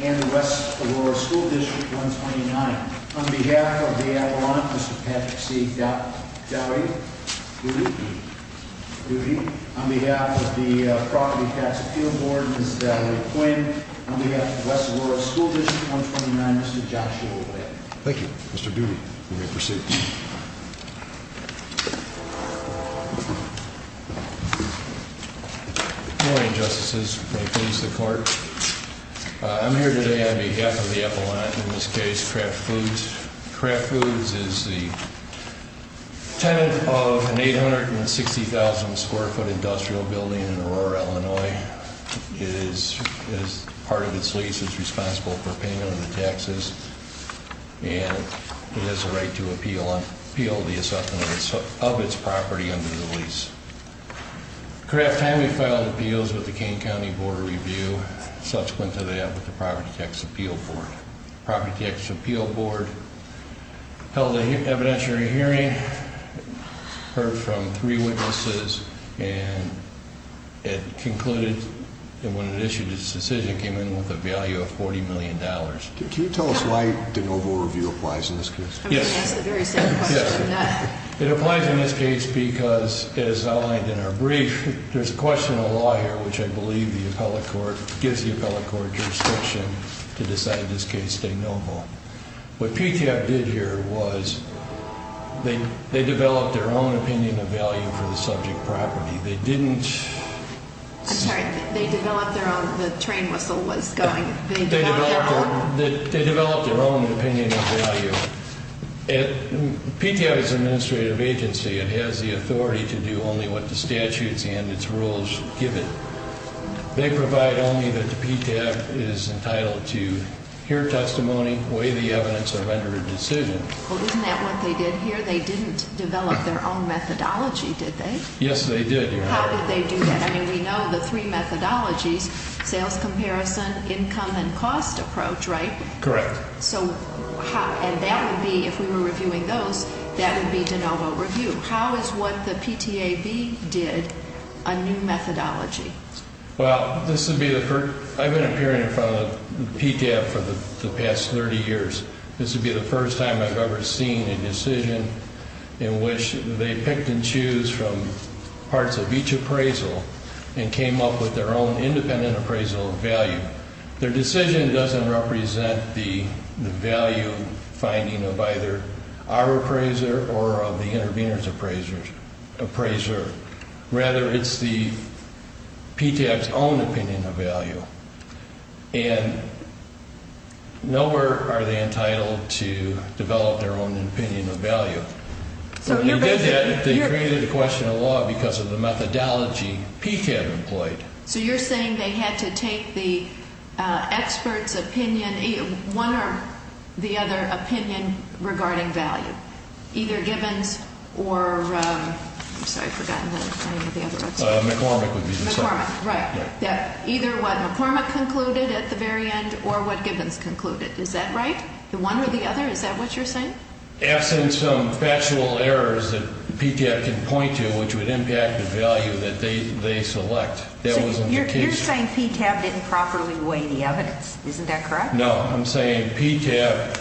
and the West Aurora School District, 129. On behalf of the Avalon, Mr. Patrick C. Doughty, on behalf of the Property Tax Appeal Board, Ms. Valerie Quinn, on behalf of the West Aurora School District, 129, Mr. Joshua Whit. Thank you, Mr. Doughty, for your pursuit. Good morning, Justices. May it please the Court. I'm here today on behalf of the Avalon, in this case Kraft Foods. Kraft Foods is the tenant of an 860,000 square foot industrial building in Aurora, Illinois. Part of its lease is responsible for payment of the taxes, and it has the right to appeal the assessment of its property under the lease. Kraft timely filed appeals with the Kane County Board of Review. Such went to that with the Property Tax Appeal Board. The Property Tax Appeal Board held an evidentiary hearing, heard from three witnesses, and it concluded that when it issued its decision, it came in with a value of $40 million. Can you tell us why de novo review applies in this case? Yes. It applies in this case because, as outlined in our brief, there's a question of law here, which I believe the appellate court gives the appellate court jurisdiction to decide in this case de novo. What PTF did here was they developed their own opinion of value for the subject property. They didn't... I'm sorry, they developed their own, the train whistle was going... They developed their own opinion of value. PTF is an administrative agency. It has the authority to do only what the statutes and its rules give it. They provide only that the PTF is entitled to hear testimony, weigh the evidence, or render a decision. Well, isn't that what they did here? They didn't develop their own methodology, did they? Yes, they did, Your Honor. How did they do that? I mean, we know the three methodologies, sales comparison, income, and cost approach, right? Correct. And that would be, if we were reviewing those, that would be de novo review. How is what the PTAB did a new methodology? Well, this would be the first... I've been appearing in front of the PTAB for the past 30 years. This would be the first time I've ever seen a decision in which they picked and choose from parts of each appraisal and came up with their own independent appraisal of value. Their decision doesn't represent the value finding of either our appraiser or of the intervener's appraiser. Rather, it's the PTAB's own opinion of value. And nowhere are they entitled to develop their own opinion of value. So you're basically... When they did that, they created a question of law because of the methodology PTAB employed. So you're saying they had to take the expert's opinion, one or the other opinion regarding value, either Gibbons or... I'm sorry, I've forgotten the name of the other expert. McCormick would be the second. McCormick, right. Either what McCormick concluded at the very end or what Gibbons concluded. Is that right? The one or the other? Is that what you're saying? Absent some factual errors that PTAB can point to which would impact the value that they select. That was an indication. You're saying PTAB didn't properly weigh the evidence. Isn't that correct? No. I'm saying PTAB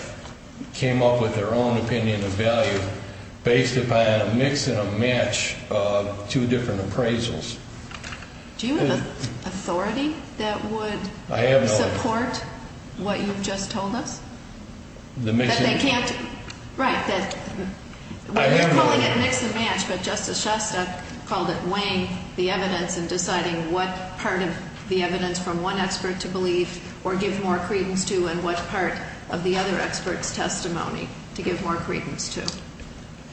came up with their own opinion of value based upon a mix and a match of two different appraisals. Do you have an authority that would support what you've just told us? That they can't... Right. We're calling it mix and match, but Justice Shostak called it weighing the evidence and deciding what part of the evidence from one expert to believe or give more credence to and what part of the other expert's testimony to give more credence to.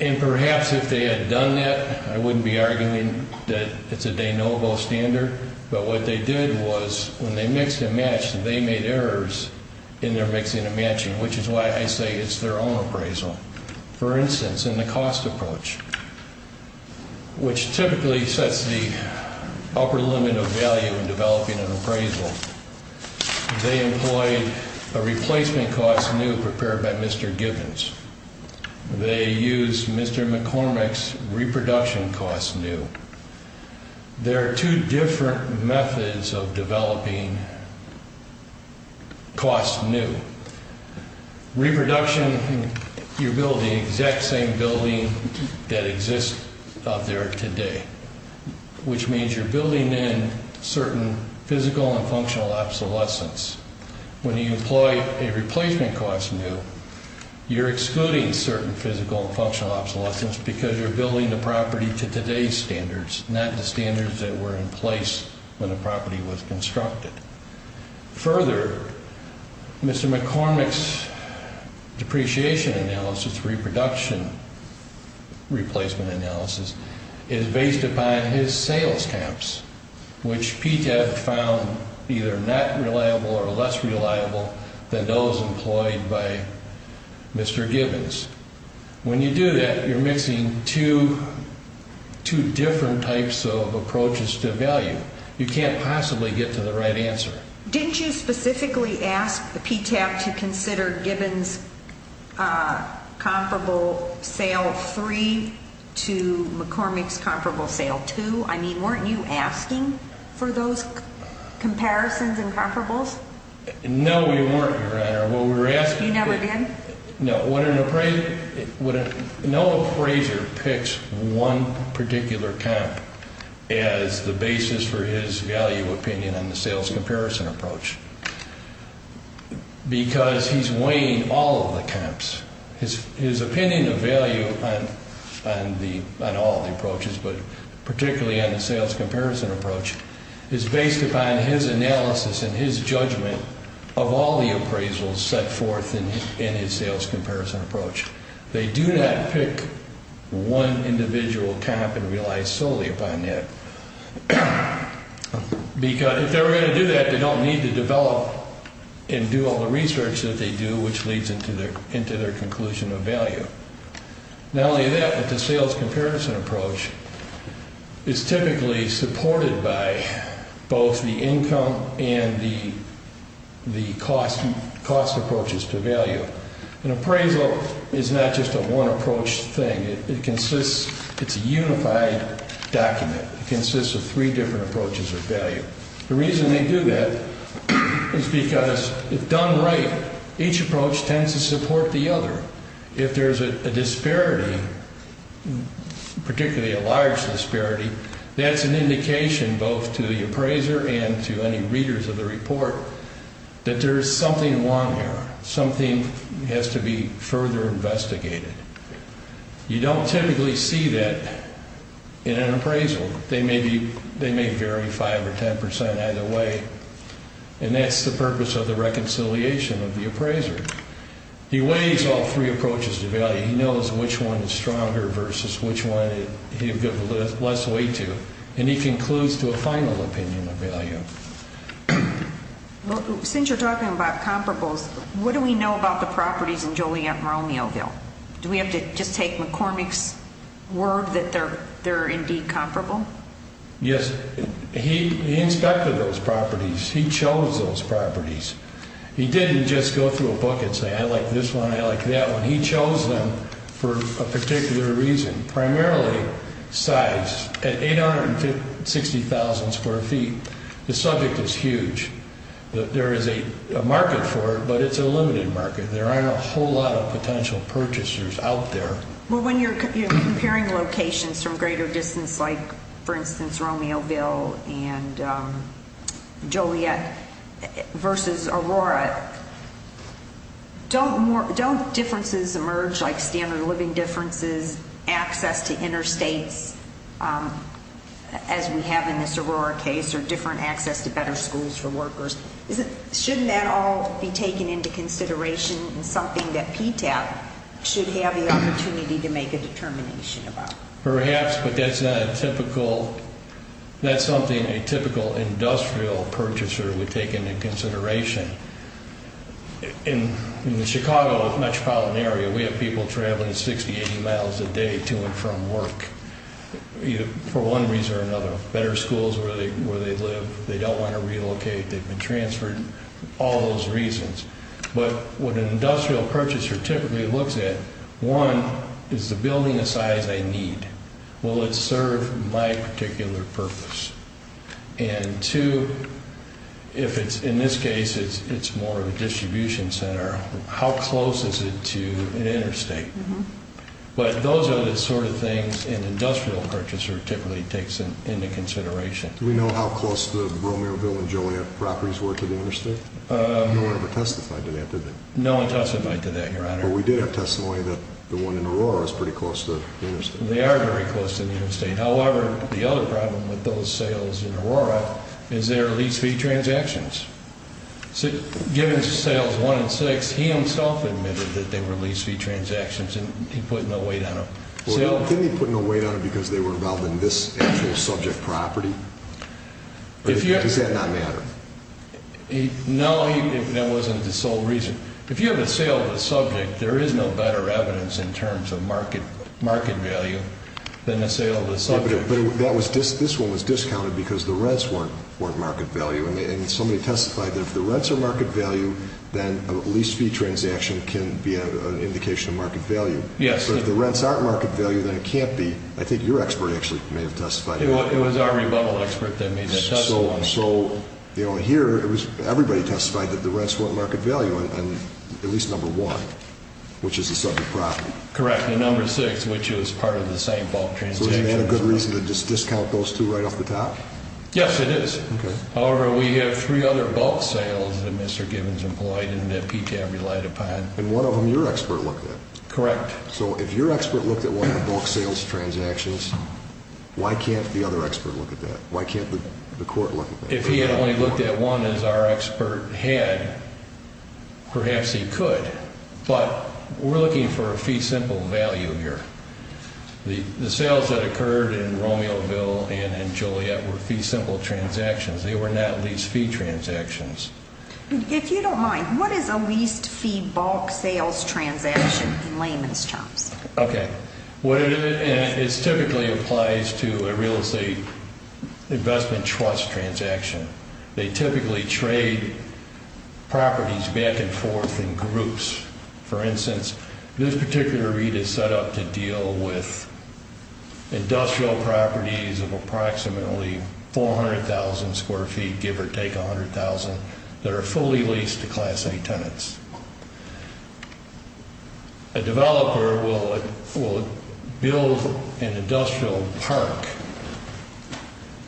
And perhaps if they had done that, I wouldn't be arguing that it's a de novo standard, but what they did was when they mixed and matched, they made errors in their mixing and matching, which is why I say it's their own appraisal. For instance, in the cost approach, which typically sets the upper limit of value in developing an appraisal, they employed a replacement cost new prepared by Mr. Gibbons. They used Mr. McCormick's reproduction cost new. There are two different methods of developing cost new. Reproduction, you're building the exact same building that exists out there today, which means you're building in certain physical and functional obsolescence. When you employ a replacement cost new, you're excluding certain physical and functional obsolescence because you're building the property to today's standards, not the standards that were in place when the property was constructed. Further, Mr. McCormick's depreciation analysis, reproduction replacement analysis, is based upon his sales caps, which PTAC found either not reliable or less reliable than those employed by Mr. Gibbons. When you do that, you're mixing two different types of approaches to value. You can't possibly get to the right answer. Didn't you specifically ask PTAC to consider Gibbons' comparable sale three to McCormick's comparable sale two? I mean, weren't you asking for those comparisons and comparables? No, we weren't, Your Honor. You never did? No, no appraiser picks one particular comp as the basis for his value opinion on the sales comparison approach because he's weighing all of the comps. His opinion of value on all the approaches, but particularly on the sales comparison approach, is based upon his analysis and his judgment of all the appraisals set forth in his sales comparison approach. They do not pick one individual comp and rely solely upon that. If they were going to do that, they don't need to develop and do all the research that they do, which leads into their conclusion of value. Not only that, but the sales comparison approach is typically supported by both the income and the cost approaches to value. An appraisal is not just a one approach thing. It's a unified document. It consists of three different approaches of value. The reason they do that is because if done right, each approach tends to support the other. If there's a disparity, particularly a large disparity, that's an indication both to the appraiser and to any readers of the report that there is something wrong here. Something has to be further investigated. You don't typically see that in an appraisal. They may vary 5% or 10% either way, and that's the purpose of the reconciliation of the appraiser. He weighs all three approaches to value. He knows which one is stronger versus which one he'll give less weight to, and he concludes to a final opinion of value. Since you're talking about comparables, what do we know about the properties in Joliet and Romeoville? Do we have to just take McCormick's word that they're indeed comparable? Yes. He inspected those properties. He chose those properties. He didn't just go through a book and say, I like this one, I like that one. He chose them for a particular reason, primarily size. At 860,000 square feet, the subject is huge. There is a market for it, but it's a limited market. There aren't a whole lot of potential purchasers out there. When you're comparing locations from greater distance like, for instance, Romeoville and Joliet versus Aurora, don't differences emerge like standard living differences, access to interstates, as we have in this Aurora case, or different access to better schools for workers? Shouldn't that all be taken into consideration as something that PTAP should have the opportunity to make a determination about? Perhaps, but that's something a typical industrial purchaser would take into consideration. In the Chicago metropolitan area, we have people traveling 60, 80 miles a day to and from work for one reason or another. Better schools where they live, they don't want to relocate, they've been transferred, all those reasons. But what an industrial purchaser typically looks at, one, is the building the size I need. Will it serve my particular purpose? And two, in this case, it's more of a distribution center. How close is it to an interstate? But those are the sort of things an industrial purchaser typically takes into consideration. Do we know how close the Romeoville and Joliet properties were to the interstate? No one ever testified to that, did they? No one testified to that, Your Honor. But we did have testimony that the one in Aurora was pretty close to the interstate. They are very close to the interstate. However, the other problem with those sales in Aurora is their lease fee transactions. Given sales one and six, he himself admitted that they were lease fee transactions and he put no weight on them. Didn't he put no weight on them because they were involved in this actual subject property? Does that not matter? No, that wasn't the sole reason. If you have a sale of a subject, there is no better evidence in terms of market value than a sale of a subject. But this one was discounted because the rents weren't market value. And somebody testified that if the rents are market value, then a lease fee transaction can be an indication of market value. Yes. But if the rents aren't market value, then it can't be. I think your expert actually may have testified to that. It was our rebuttal expert that made that testimony. So here, everybody testified that the rents weren't market value on at least number one, which is a subject property. Correct, and number six, which was part of the same bulk transaction. Is that a good reason to just discount those two right off the top? Yes, it is. However, we have three other bulk sales that Mr. Gibbons employed and that PTAB relied upon. And one of them your expert looked at. Correct. So if your expert looked at one of the bulk sales transactions, why can't the other expert look at that? Why can't the court look at that? If he had only looked at one, as our expert had, perhaps he could. But we're looking for a fee simple value here. The sales that occurred in Romeoville and Joliet were fee simple transactions. They were not lease fee transactions. If you don't mind, what is a lease fee bulk sales transaction in layman's terms? Okay. It typically applies to a real estate investment trust transaction. They typically trade properties back and forth in groups. For instance, this particular read is set up to deal with industrial properties of approximately 400,000 square feet, give or take 100,000, that are fully leased to Class A tenants. A developer will build an industrial park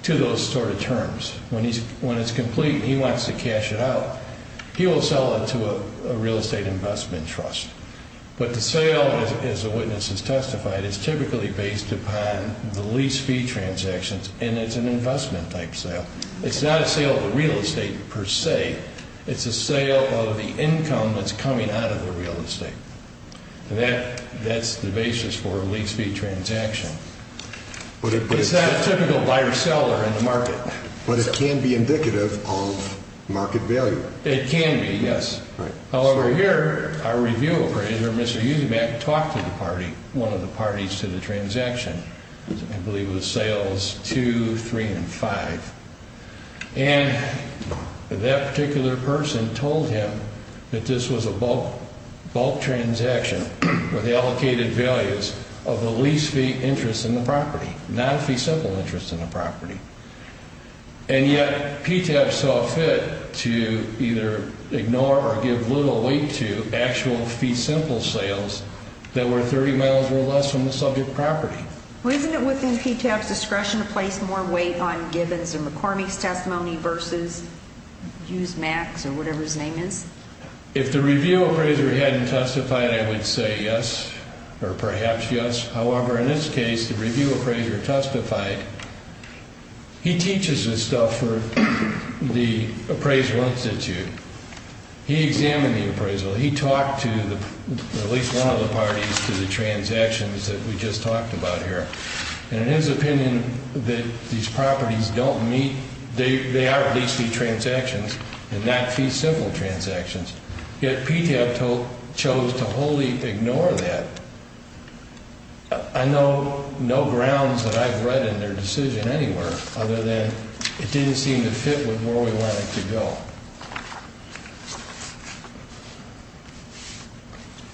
to those sort of terms. When it's complete and he wants to cash it out, he will sell it to a real estate investment trust. But the sale, as the witness has testified, is typically based upon the lease fee transactions, and it's an investment type sale. It's not a sale of the real estate per se. It's a sale of the income that's coming out of the real estate. That's the basis for a lease fee transaction. It's not a typical buyer-seller in the market. But it can be indicative of market value. It can be, yes. However, here our review appraiser, Mr. Eusenbach, talked to one of the parties to the transaction. I believe it was sales 2, 3, and 5. And that particular person told him that this was a bulk transaction with allocated values of the lease fee interest in the property, not a fee simple interest in the property. And yet PTAP saw fit to either ignore or give little weight to actual fee simple sales that were 30 miles or less from the subject property. Well, isn't it within PTAP's discretion to place more weight on Gibbons and McCormick's testimony versus Eusenbach's or whatever his name is? If the review appraiser hadn't testified, I would say yes or perhaps yes. However, in this case, the review appraiser testified. He teaches this stuff for the Appraisal Institute. He examined the appraisal. He talked to at least one of the parties to the transactions that we just talked about here. And in his opinion, these properties don't meet the lease fee transactions and not fee simple transactions. Yet PTAP chose to wholly ignore that. I know no grounds that I've read in their decision anywhere other than it didn't seem to fit with where we wanted to go.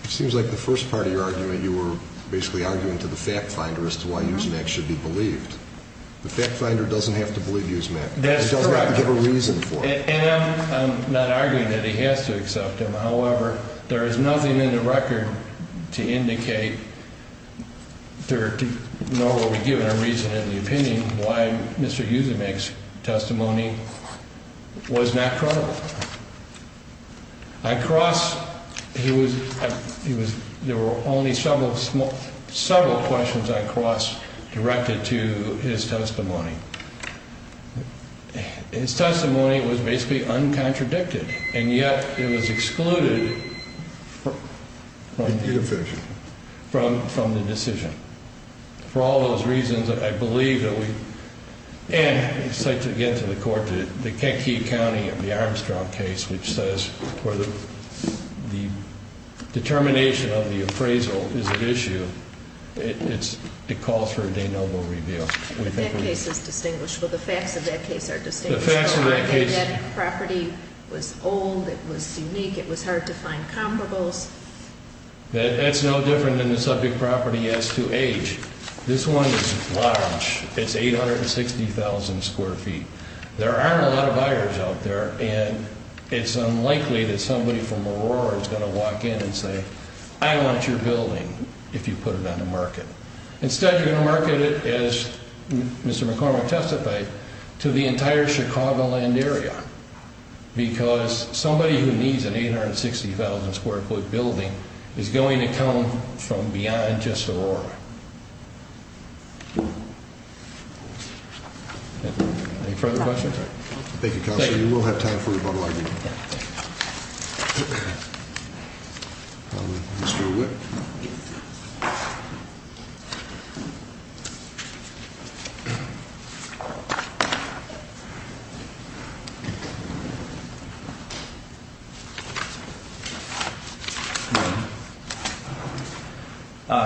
It seems like the first part of your argument, you were basically arguing to the fact finder as to why Eusenbach should be believed. The fact finder doesn't have to believe Eusenbach. That's correct. He doesn't have to give a reason for it. And I'm not arguing that he has to accept them. However, there is nothing in the record to indicate nor were we given a reason in the opinion why Mr. Eusenbach's testimony was not credible. I cross, there were only several questions I cross directed to his testimony. His testimony was basically uncontradicted. And yet it was excluded from the decision. For all those reasons, I believe that we, and I'd like to get to the court, the Kentucky County of the Armstrong case, which says whether the determination of the appraisal is at issue, it calls for a de nobis reveal. That case is distinguished. Well, the facts of that case are distinguished. The facts of that case... That property was old. It was unique. It was hard to find comparables. That's no different than the subject property as to age. This one is large. It's 860,000 square feet. There aren't a lot of buyers out there, and it's unlikely that somebody from Aurora is going to walk in and say, I want your building if you put it on the market. Instead, you're going to market it, as Mr. McCormick testified, to the entire Chicagoland area because somebody who needs an 860,000 square foot building is going to come from beyond just Aurora. Any further questions? Thank you, Counselor. We'll have time for a bottle of idea. Mr. Witt.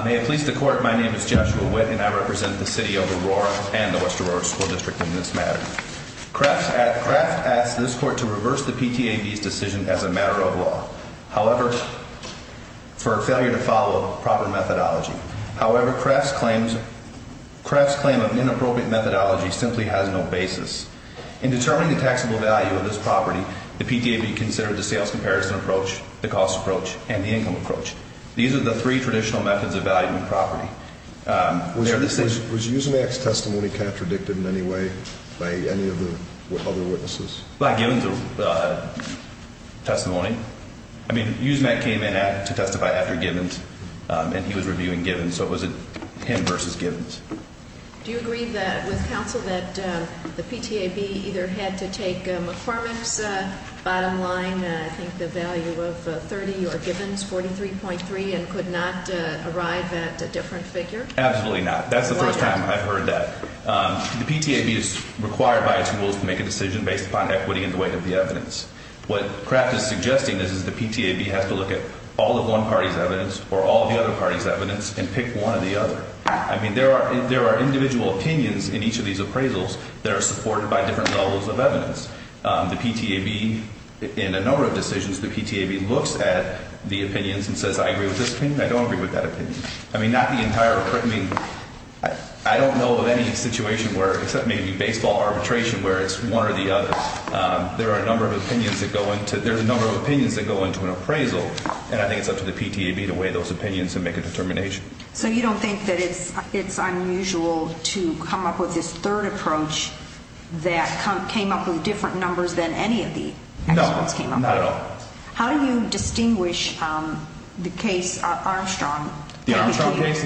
May it please the Court, my name is Joshua Witt, and I represent the City of Aurora and the West Aurora School District in this matter. Kraft asked this Court to reverse the PTAB's decision as a matter of law, however, for a failure to follow proper methodology. However, Kraft's claim of inappropriate methodology simply has no basis. In determining the taxable value of this property, the PTAB considered the sales comparison approach, the cost approach, and the income approach. These are the three traditional methods of valuing property. Was Usemak's testimony contradicted in any way by any of the other witnesses? Usemak came in to testify after Gibbons, and he was reviewing Gibbons, so it was him versus Gibbons. Do you agree with Counsel that the PTAB either had to take McCormick's bottom line, I think the value of 30 or Gibbons, 43.3, and could not arrive at a different figure? Absolutely not. That's the first time I've heard that. The PTAB is required by its rules to make a decision based upon equity in the weight of the evidence. What Kraft is suggesting is that the PTAB has to look at all of one party's evidence or all of the other party's evidence and pick one or the other. I mean, there are individual opinions in each of these appraisals that are supported by different levels of evidence. The PTAB, in a number of decisions, the PTAB looks at the opinions and says, I agree with this opinion, I don't agree with that opinion. I mean, not the entire appraisal. I don't know of any situation where, except maybe baseball arbitration, where it's one or the other. There are a number of opinions that go into an appraisal, and I think it's up to the PTAB to weigh those opinions and make a determination. So you don't think that it's unusual to come up with this third approach that came up with different numbers than any of the experts came up with? No, not at all. How do you distinguish the case Armstrong? The Armstrong case?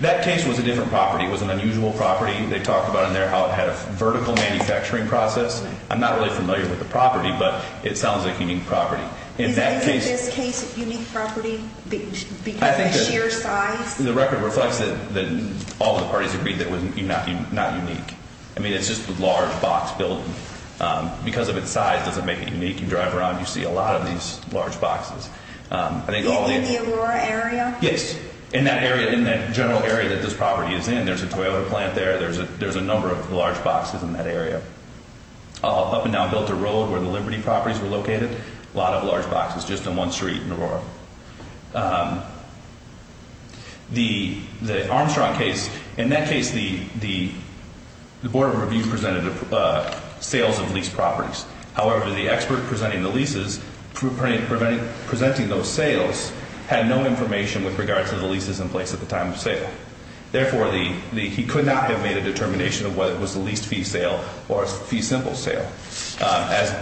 That case was a different property. It was an unusual property. They talked about in there how it had a vertical manufacturing process. I'm not really familiar with the property, but it sounds like unique property. Is any of this case unique property because of the sheer size? The record reflects that all the parties agreed that it was not unique. I mean, it's just a large box building. Because of its size doesn't make it unique. You drive around, you see a lot of these large boxes. In the Aurora area? Yes, in that area, in that general area that this property is in. There's a toilet plant there. There's a number of large boxes in that area. Up and down Delta Road where the Liberty properties were located, a lot of large boxes just in one street in Aurora. The Armstrong case, in that case the Board of Review presented sales of leased properties. However, the expert presenting the leases, presenting those sales, had no information with regard to the leases in place at the time of sale. Therefore, he could not have made a determination of whether it was a leased fee sale or a fee simple sale. As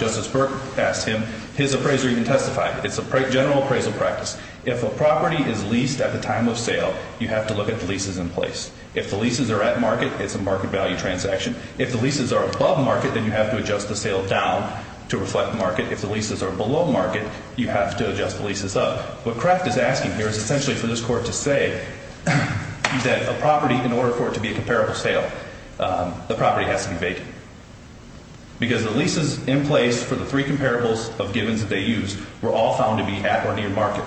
Justice Burke asked him, his appraiser even testified. It's a general appraisal practice. If a property is leased at the time of sale, you have to look at the leases in place. If the leases are at market, it's a market value transaction. If the leases are above market, then you have to adjust the sale down to reflect market. If the leases are below market, you have to adjust the leases up. What Kraft is asking here is essentially for this Court to say that a property, in order for it to be a comparable sale, the property has to be vacant. Because the leases in place for the three comparables of givens that they used were all found to be at or near market.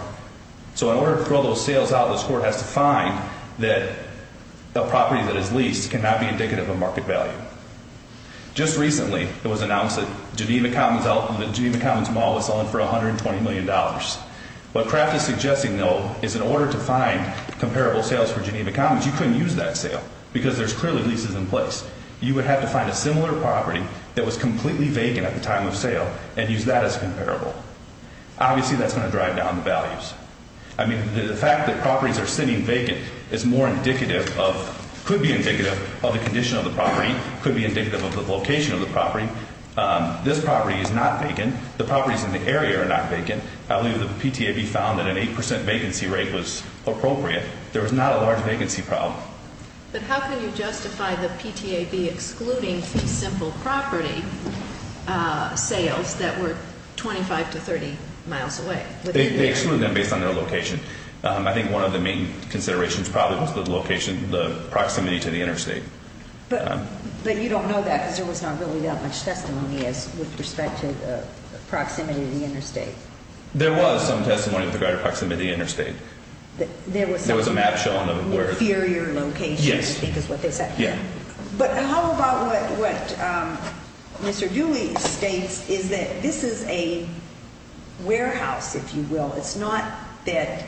So in order to throw those sales out, this Court has to find that a property that is leased cannot be indicative of market value. Just recently, it was announced that Geneva Commons Mall was selling for $120 million. What Kraft is suggesting, though, is in order to find comparable sales for Geneva Commons, you couldn't use that sale because there's clearly leases in place. You would have to find a similar property that was completely vacant at the time of sale and use that as comparable. Obviously, that's going to drive down the values. I mean, the fact that properties are sitting vacant is more indicative of, could be indicative of the condition of the property, could be indicative of the location of the property. This property is not vacant. The properties in the area are not vacant. The PTAB found that an 8% vacancy rate was appropriate. There was not a large vacancy problem. But how can you justify the PTAB excluding simple property sales that were 25 to 30 miles away? They excluded them based on their location. I think one of the main considerations probably was the proximity to the interstate. But you don't know that because there was not really that much testimony with respect to the proximity to the interstate. There was some testimony of the greater proximity to the interstate. There was a map showing where it was. Inferior location, I think is what they said. Yeah. But how about what Mr. Dewey states is that this is a warehouse, if you will. It's not that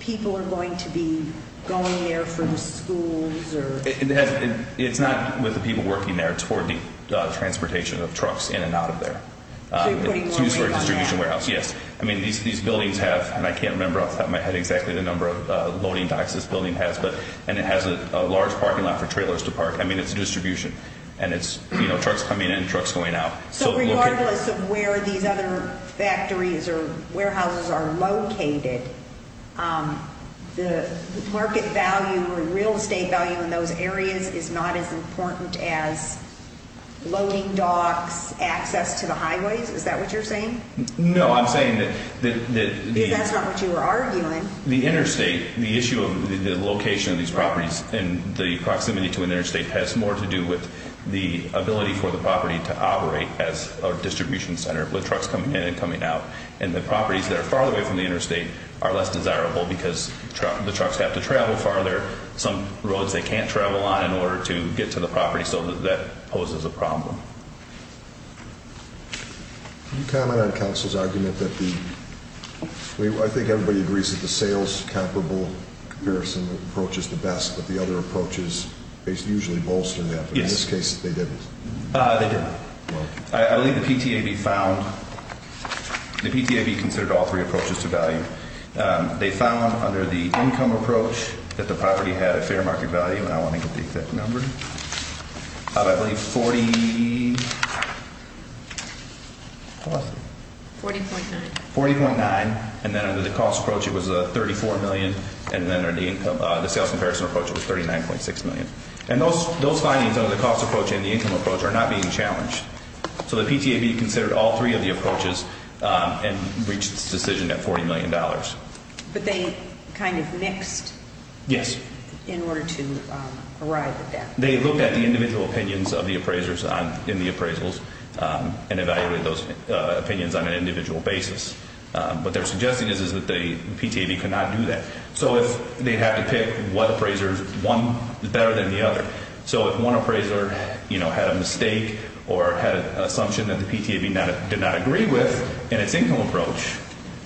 people are going to be going there for the schools or… It's not with the people working there. It's for the transportation of trucks in and out of there. So you're putting more weight on that. It's used for a distribution warehouse, yes. I mean, these buildings have, and I can't remember off the top of my head exactly the number of loading docks this building has, and it has a large parking lot for trailers to park. I mean, it's a distribution. And it's, you know, trucks coming in and trucks going out. So regardless of where these other factories or warehouses are located, the market value or real estate value in those areas is not as important as loading docks, access to the highways? Is that what you're saying? No, I'm saying that… Because that's not what you were arguing. The interstate, the issue of the location of these properties and the proximity to an interstate has more to do with the ability for the property to operate as a distribution center with trucks coming in and coming out. And the properties that are farther away from the interstate are less desirable because the trucks have to travel farther, some roads they can't travel on in order to get to the property, so that poses a problem. Can you comment on counsel's argument that the… I think everybody agrees that the sales comparable comparison approach is the best, but the other approaches usually bolster that. But in this case, they didn't. They didn't. I believe the PTAB found…the PTAB considered all three approaches to value. They found under the income approach that the property had a fair market value, and I want to get the exact number, probably 40… 40.9. 40.9. And then under the cost approach, it was 34 million. And then under the sales comparison approach, it was 39.6 million. And those findings under the cost approach and the income approach are not being challenged. So the PTAB considered all three of the approaches and reached its decision at $40 million. But they kind of mixed… Yes. …in order to arrive at that. They looked at the individual opinions of the appraisers in the appraisals and evaluated those opinions on an individual basis. What they're suggesting is that the PTAB could not do that. So they'd have to pick what appraiser is better than the other. So if one appraiser, you know, had a mistake or had an assumption that the PTAB did not agree with in its income approach,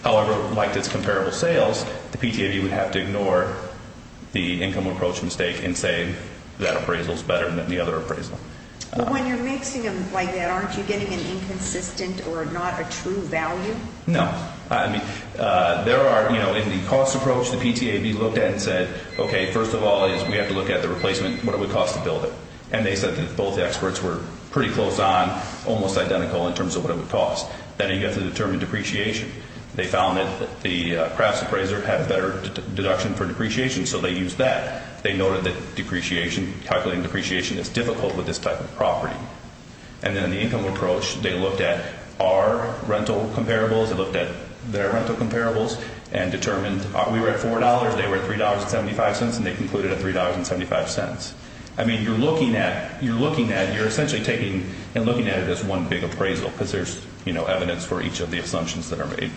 however, liked its comparable sales, the PTAB would have to ignore the income approach mistake and say that appraisal is better than the other appraisal. When you're mixing them like that, aren't you getting an inconsistent or not a true value? No. I mean, there are, you know, in the cost approach, the PTAB looked at it and said, okay, first of all, we have to look at the replacement, what it would cost to build it. And they said that both experts were pretty close on, almost identical in terms of what it would cost. Then you have to determine depreciation. They found that the crafts appraiser had a better deduction for depreciation, so they used that. And then in the income approach, they looked at our rental comparables. They looked at their rental comparables and determined we were at $4, they were at $3.75, and they concluded at $3.75. I mean, you're looking at, you're essentially taking and looking at it as one big appraisal because there's, you know, evidence for each of the assumptions that are made.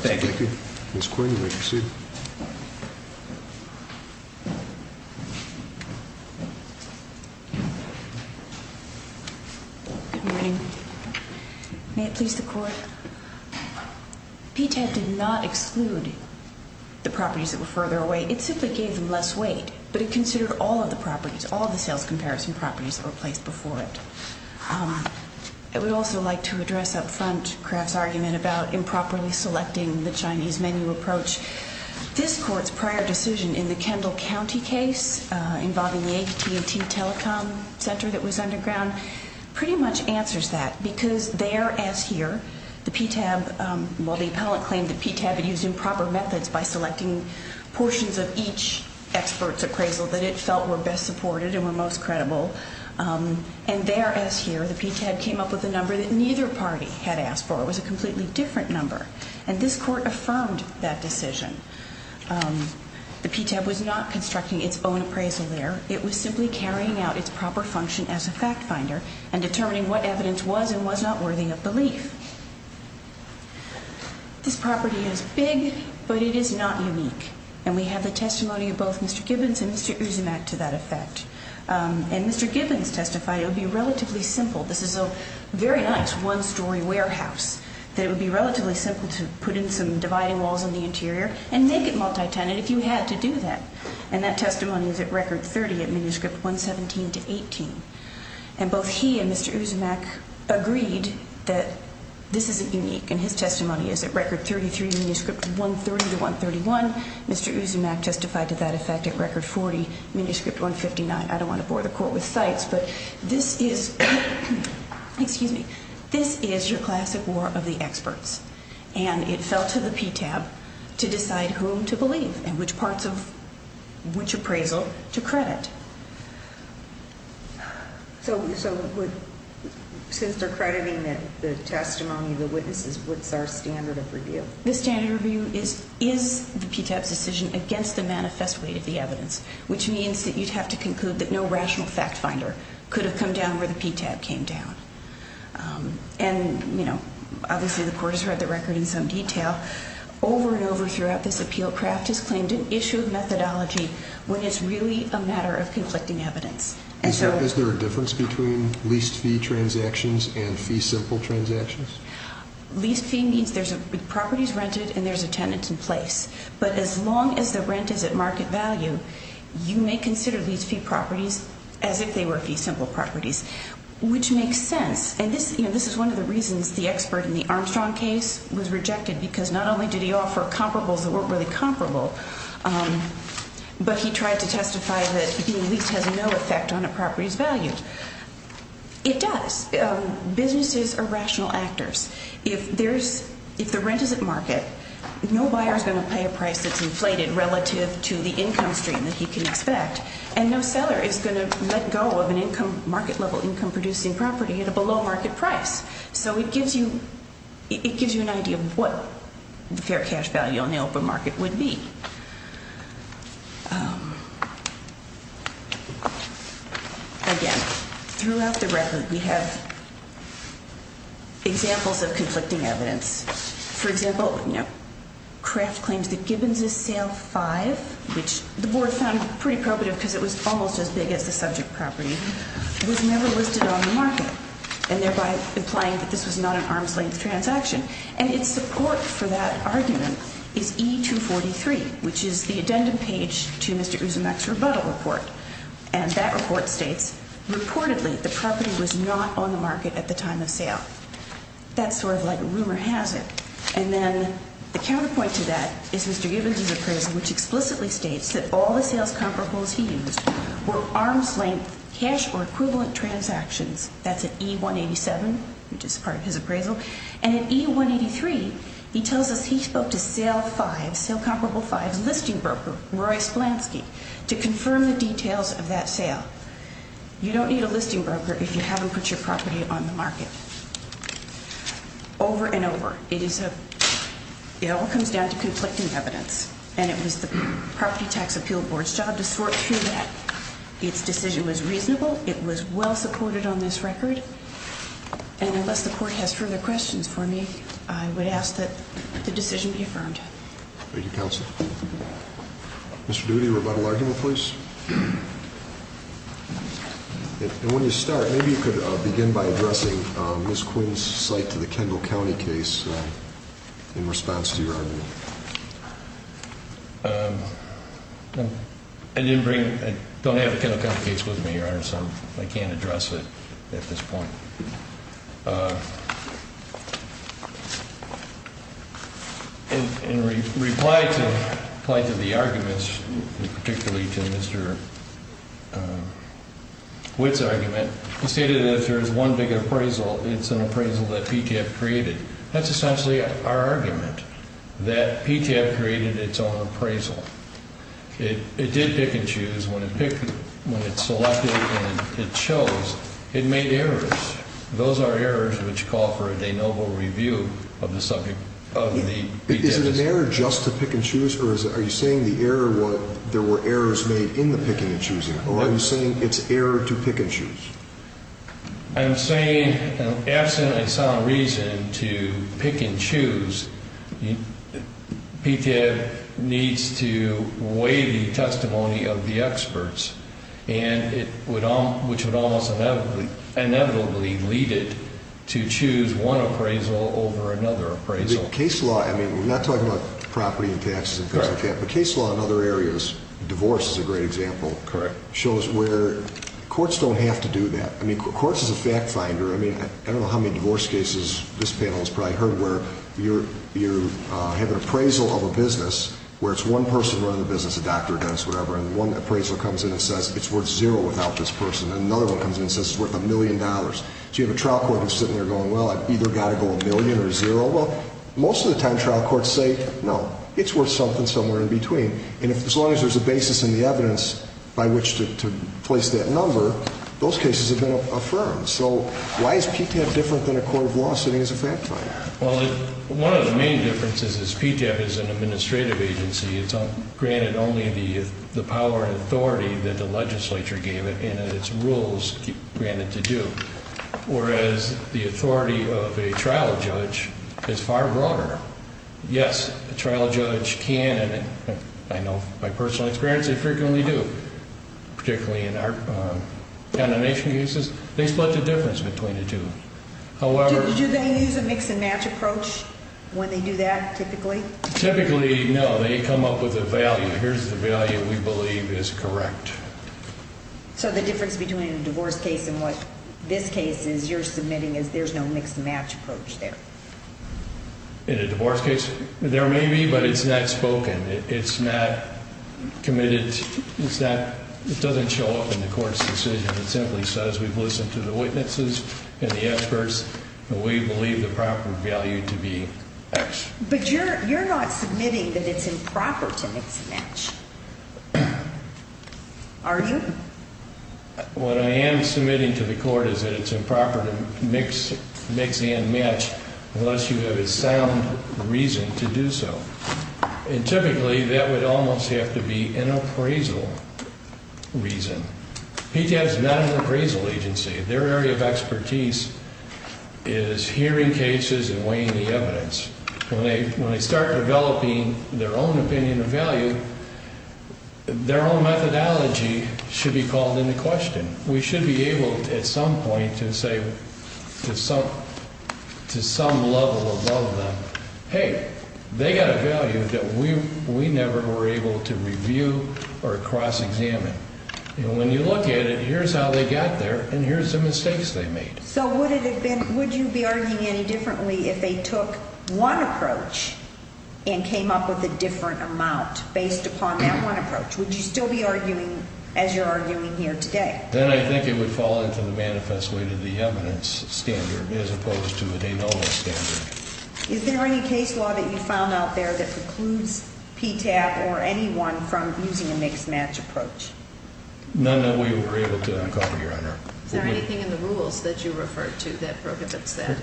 Thank you. Ms. Quinn, you may proceed. Thank you. Good morning. May it please the Court. PTAB did not exclude the properties that were further away. It simply gave them less weight, but it considered all of the properties, all of the sales comparison properties that were placed before it. I would also like to address up front Kraft's argument about improperly selecting the Chinese menu approach. This Court's prior decision in the Kendall County case involving the AT&T Telecom Center that was underground pretty much answers that because there, as here, the PTAB, while the appellant claimed the PTAB had used improper methods by selecting portions of each expert's appraisal that it felt were best supported and were most credible, and there, as here, the PTAB came up with a number that neither party had asked for. It was a completely different number. And this Court affirmed that decision. The PTAB was not constructing its own appraisal there. It was simply carrying out its proper function as a fact finder and determining what evidence was and was not worthy of belief. This property is big, but it is not unique. And we have the testimony of both Mr. Gibbons and Mr. Uzumak to that effect. And Mr. Gibbons testified it would be relatively simple. This is a very nice one-story warehouse, that it would be relatively simple to put in some dividing walls in the interior and make it multi-tenant if you had to do that. And that testimony is at record 30 at manuscript 117-18. And both he and Mr. Uzumak agreed that this isn't unique, and his testimony is at record 33, manuscript 130-131. Mr. Uzumak testified to that effect at record 40, manuscript 159. I don't want to bore the Court with cites, but this is your classic war of the experts. And it fell to the PTAB to decide whom to believe and which parts of which appraisal to credit. So since they're crediting the testimony of the witnesses, what's our standard of review? The standard review is the PTAB's decision against the manifest weight of the evidence, which means that you'd have to conclude that no rational fact finder could have come down where the PTAB came down. And, you know, obviously the Court has read the record in some detail. Over and over throughout this appeal, Kraft has claimed an issue of methodology when it's really a matter of conflicting evidence. Is there a difference between leased fee transactions and fee simple transactions? Leased fee means the property is rented and there's a tenant in place. But as long as the rent is at market value, you may consider these fee properties as if they were fee simple properties, which makes sense. And this is one of the reasons the expert in the Armstrong case was rejected because not only did he offer comparables that weren't really comparable, but he tried to testify that being leased has no effect on a property's value. It does. Businesses are rational actors. If the rent is at market, no buyer is going to pay a price that's inflated relative to the income stream that he can expect, and no seller is going to let go of a market-level income-producing property at a below-market price. So it gives you an idea of what the fair cash value on the open market would be. Again, throughout the record we have examples of conflicting evidence. For example, Kraft claims that Gibbons' Sale 5, which the board found pretty probative because it was almost as big as the subject property, was never listed on the market, and thereby implying that this was not an arm's-length transaction. And its support for that argument is E-243, which is the addendum page to Mr. Uzumak's rebuttal report. And that report states, reportedly, the property was not on the market at the time of sale. That's sort of like a rumor hazard. And then the counterpoint to that is Mr. Gibbons' appraisal, which explicitly states that all the sales comparables he used were arm's-length cash or equivalent transactions. That's at E-187, which is part of his appraisal. And at E-183, he tells us he spoke to Sale 5, listing broker Roy Splansky, to confirm the details of that sale. You don't need a listing broker if you haven't put your property on the market. Over and over, it all comes down to conflicting evidence. And it was the Property Tax Appeal Board's job to sort through that. Its decision was reasonable. It was well supported on this record. And unless the court has further questions for me, I would ask that the decision be affirmed. Thank you, counsel. Mr. Doody, rebuttal argument, please. And when you start, maybe you could begin by addressing Ms. Quinn's cite to the Kendall County case in response to your argument. I didn't bring it. I don't have the Kendall County case with me, Your Honor, so I can't address it at this point. In reply to the arguments, particularly to Mr. Witt's argument, he stated that if there is one big appraisal, it's an appraisal that PTAB created. That's essentially our argument, that PTAB created its own appraisal. It did pick and choose. When it selected and it chose, it made errors. Those are errors which call for a de novo review of the subject of the PTAB. Is it an error just to pick and choose? Or are you saying the error was there were errors made in the picking and choosing? Or are you saying it's error to pick and choose? I'm saying, absent a sound reason to pick and choose, PTAB needs to weigh the testimony of the experts, which would almost inevitably lead it to choose one appraisal over another appraisal. Case law, I mean, we're not talking about property and taxes and things like that, but case law in other areas, divorce is a great example, shows where courts don't have to do that. Courts is a fact finder. I don't know how many divorce cases this panel has probably heard where you have an appraisal of a business where it's one person running the business, a doctor, a dentist, whatever, and one appraisal comes in and says it's worth zero without this person, and another one comes in and says it's worth a million dollars. So you have a trial court who's sitting there going, well, I've either got to go a million or zero. Well, most of the time trial courts say, no, it's worth something somewhere in between. And as long as there's a basis in the evidence by which to place that number, those cases have been affirmed. So why is PTAB different than a court of law sitting as a fact finder? Well, one of the main differences is PTAB is an administrative agency. It's granted only the power and authority that the legislature gave it and that its rules grant it to do, whereas the authority of a trial judge is far broader. Yes, a trial judge can, and I know my personal experience, they frequently do, particularly in our count of nation cases. They split the difference between the two. Do they use a mix-and-match approach when they do that typically? Typically, no. They come up with a value. Here's the value we believe is correct. So the difference between a divorce case and what this case is you're submitting is there's no mix-and-match approach there. In a divorce case, there may be, but it's not spoken. It's not committed. It doesn't show up in the court's decision. It simply says we've listened to the witnesses and the experts, and we believe the proper value to be X. But you're not submitting that it's improper to mix-and-match, are you? What I am submitting to the court is that it's improper to mix-and-match unless you have a sound reason to do so, and typically that would almost have to be an appraisal reason. PTAP is not an appraisal agency. Their area of expertise is hearing cases and weighing the evidence. When they start developing their own opinion of value, their own methodology should be called into question. We should be able at some point to say to some level above them, hey, they got a value that we never were able to review or cross-examine. When you look at it, here's how they got there, and here's the mistakes they made. So would you be arguing any differently if they took one approach and came up with a different amount based upon that one approach? Would you still be arguing as you're arguing here today? Then I think it would fall into the manifest way to the evidence standard as opposed to a de novo standard. Is there any case law that you found out there that precludes PTAP or anyone from using a mixed match approach? None that we were able to uncover, Your Honor. Is there anything in the rules that you refer to that prohibits that?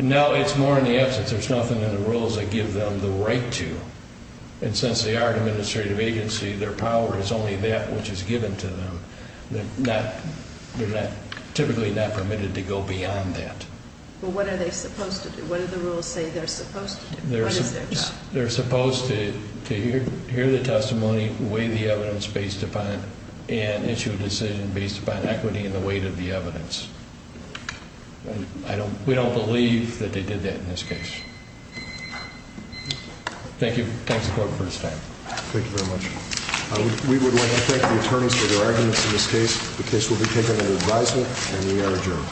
No, it's more in the absence. There's nothing in the rules that give them the right to. And since they are an administrative agency, their power is only that which is given to them. They're typically not permitted to go beyond that. But what are they supposed to do? What do the rules say they're supposed to do? What is their job? They're supposed to hear the testimony, weigh the evidence based upon it, and issue a decision based upon equity and the weight of the evidence. We don't believe that they did that in this case. Thank you. Thanks, Court, for this time. Thank you very much. We would like to thank the attorneys for their arguments in this case. The case will be taken under advisement, and we are adjourned.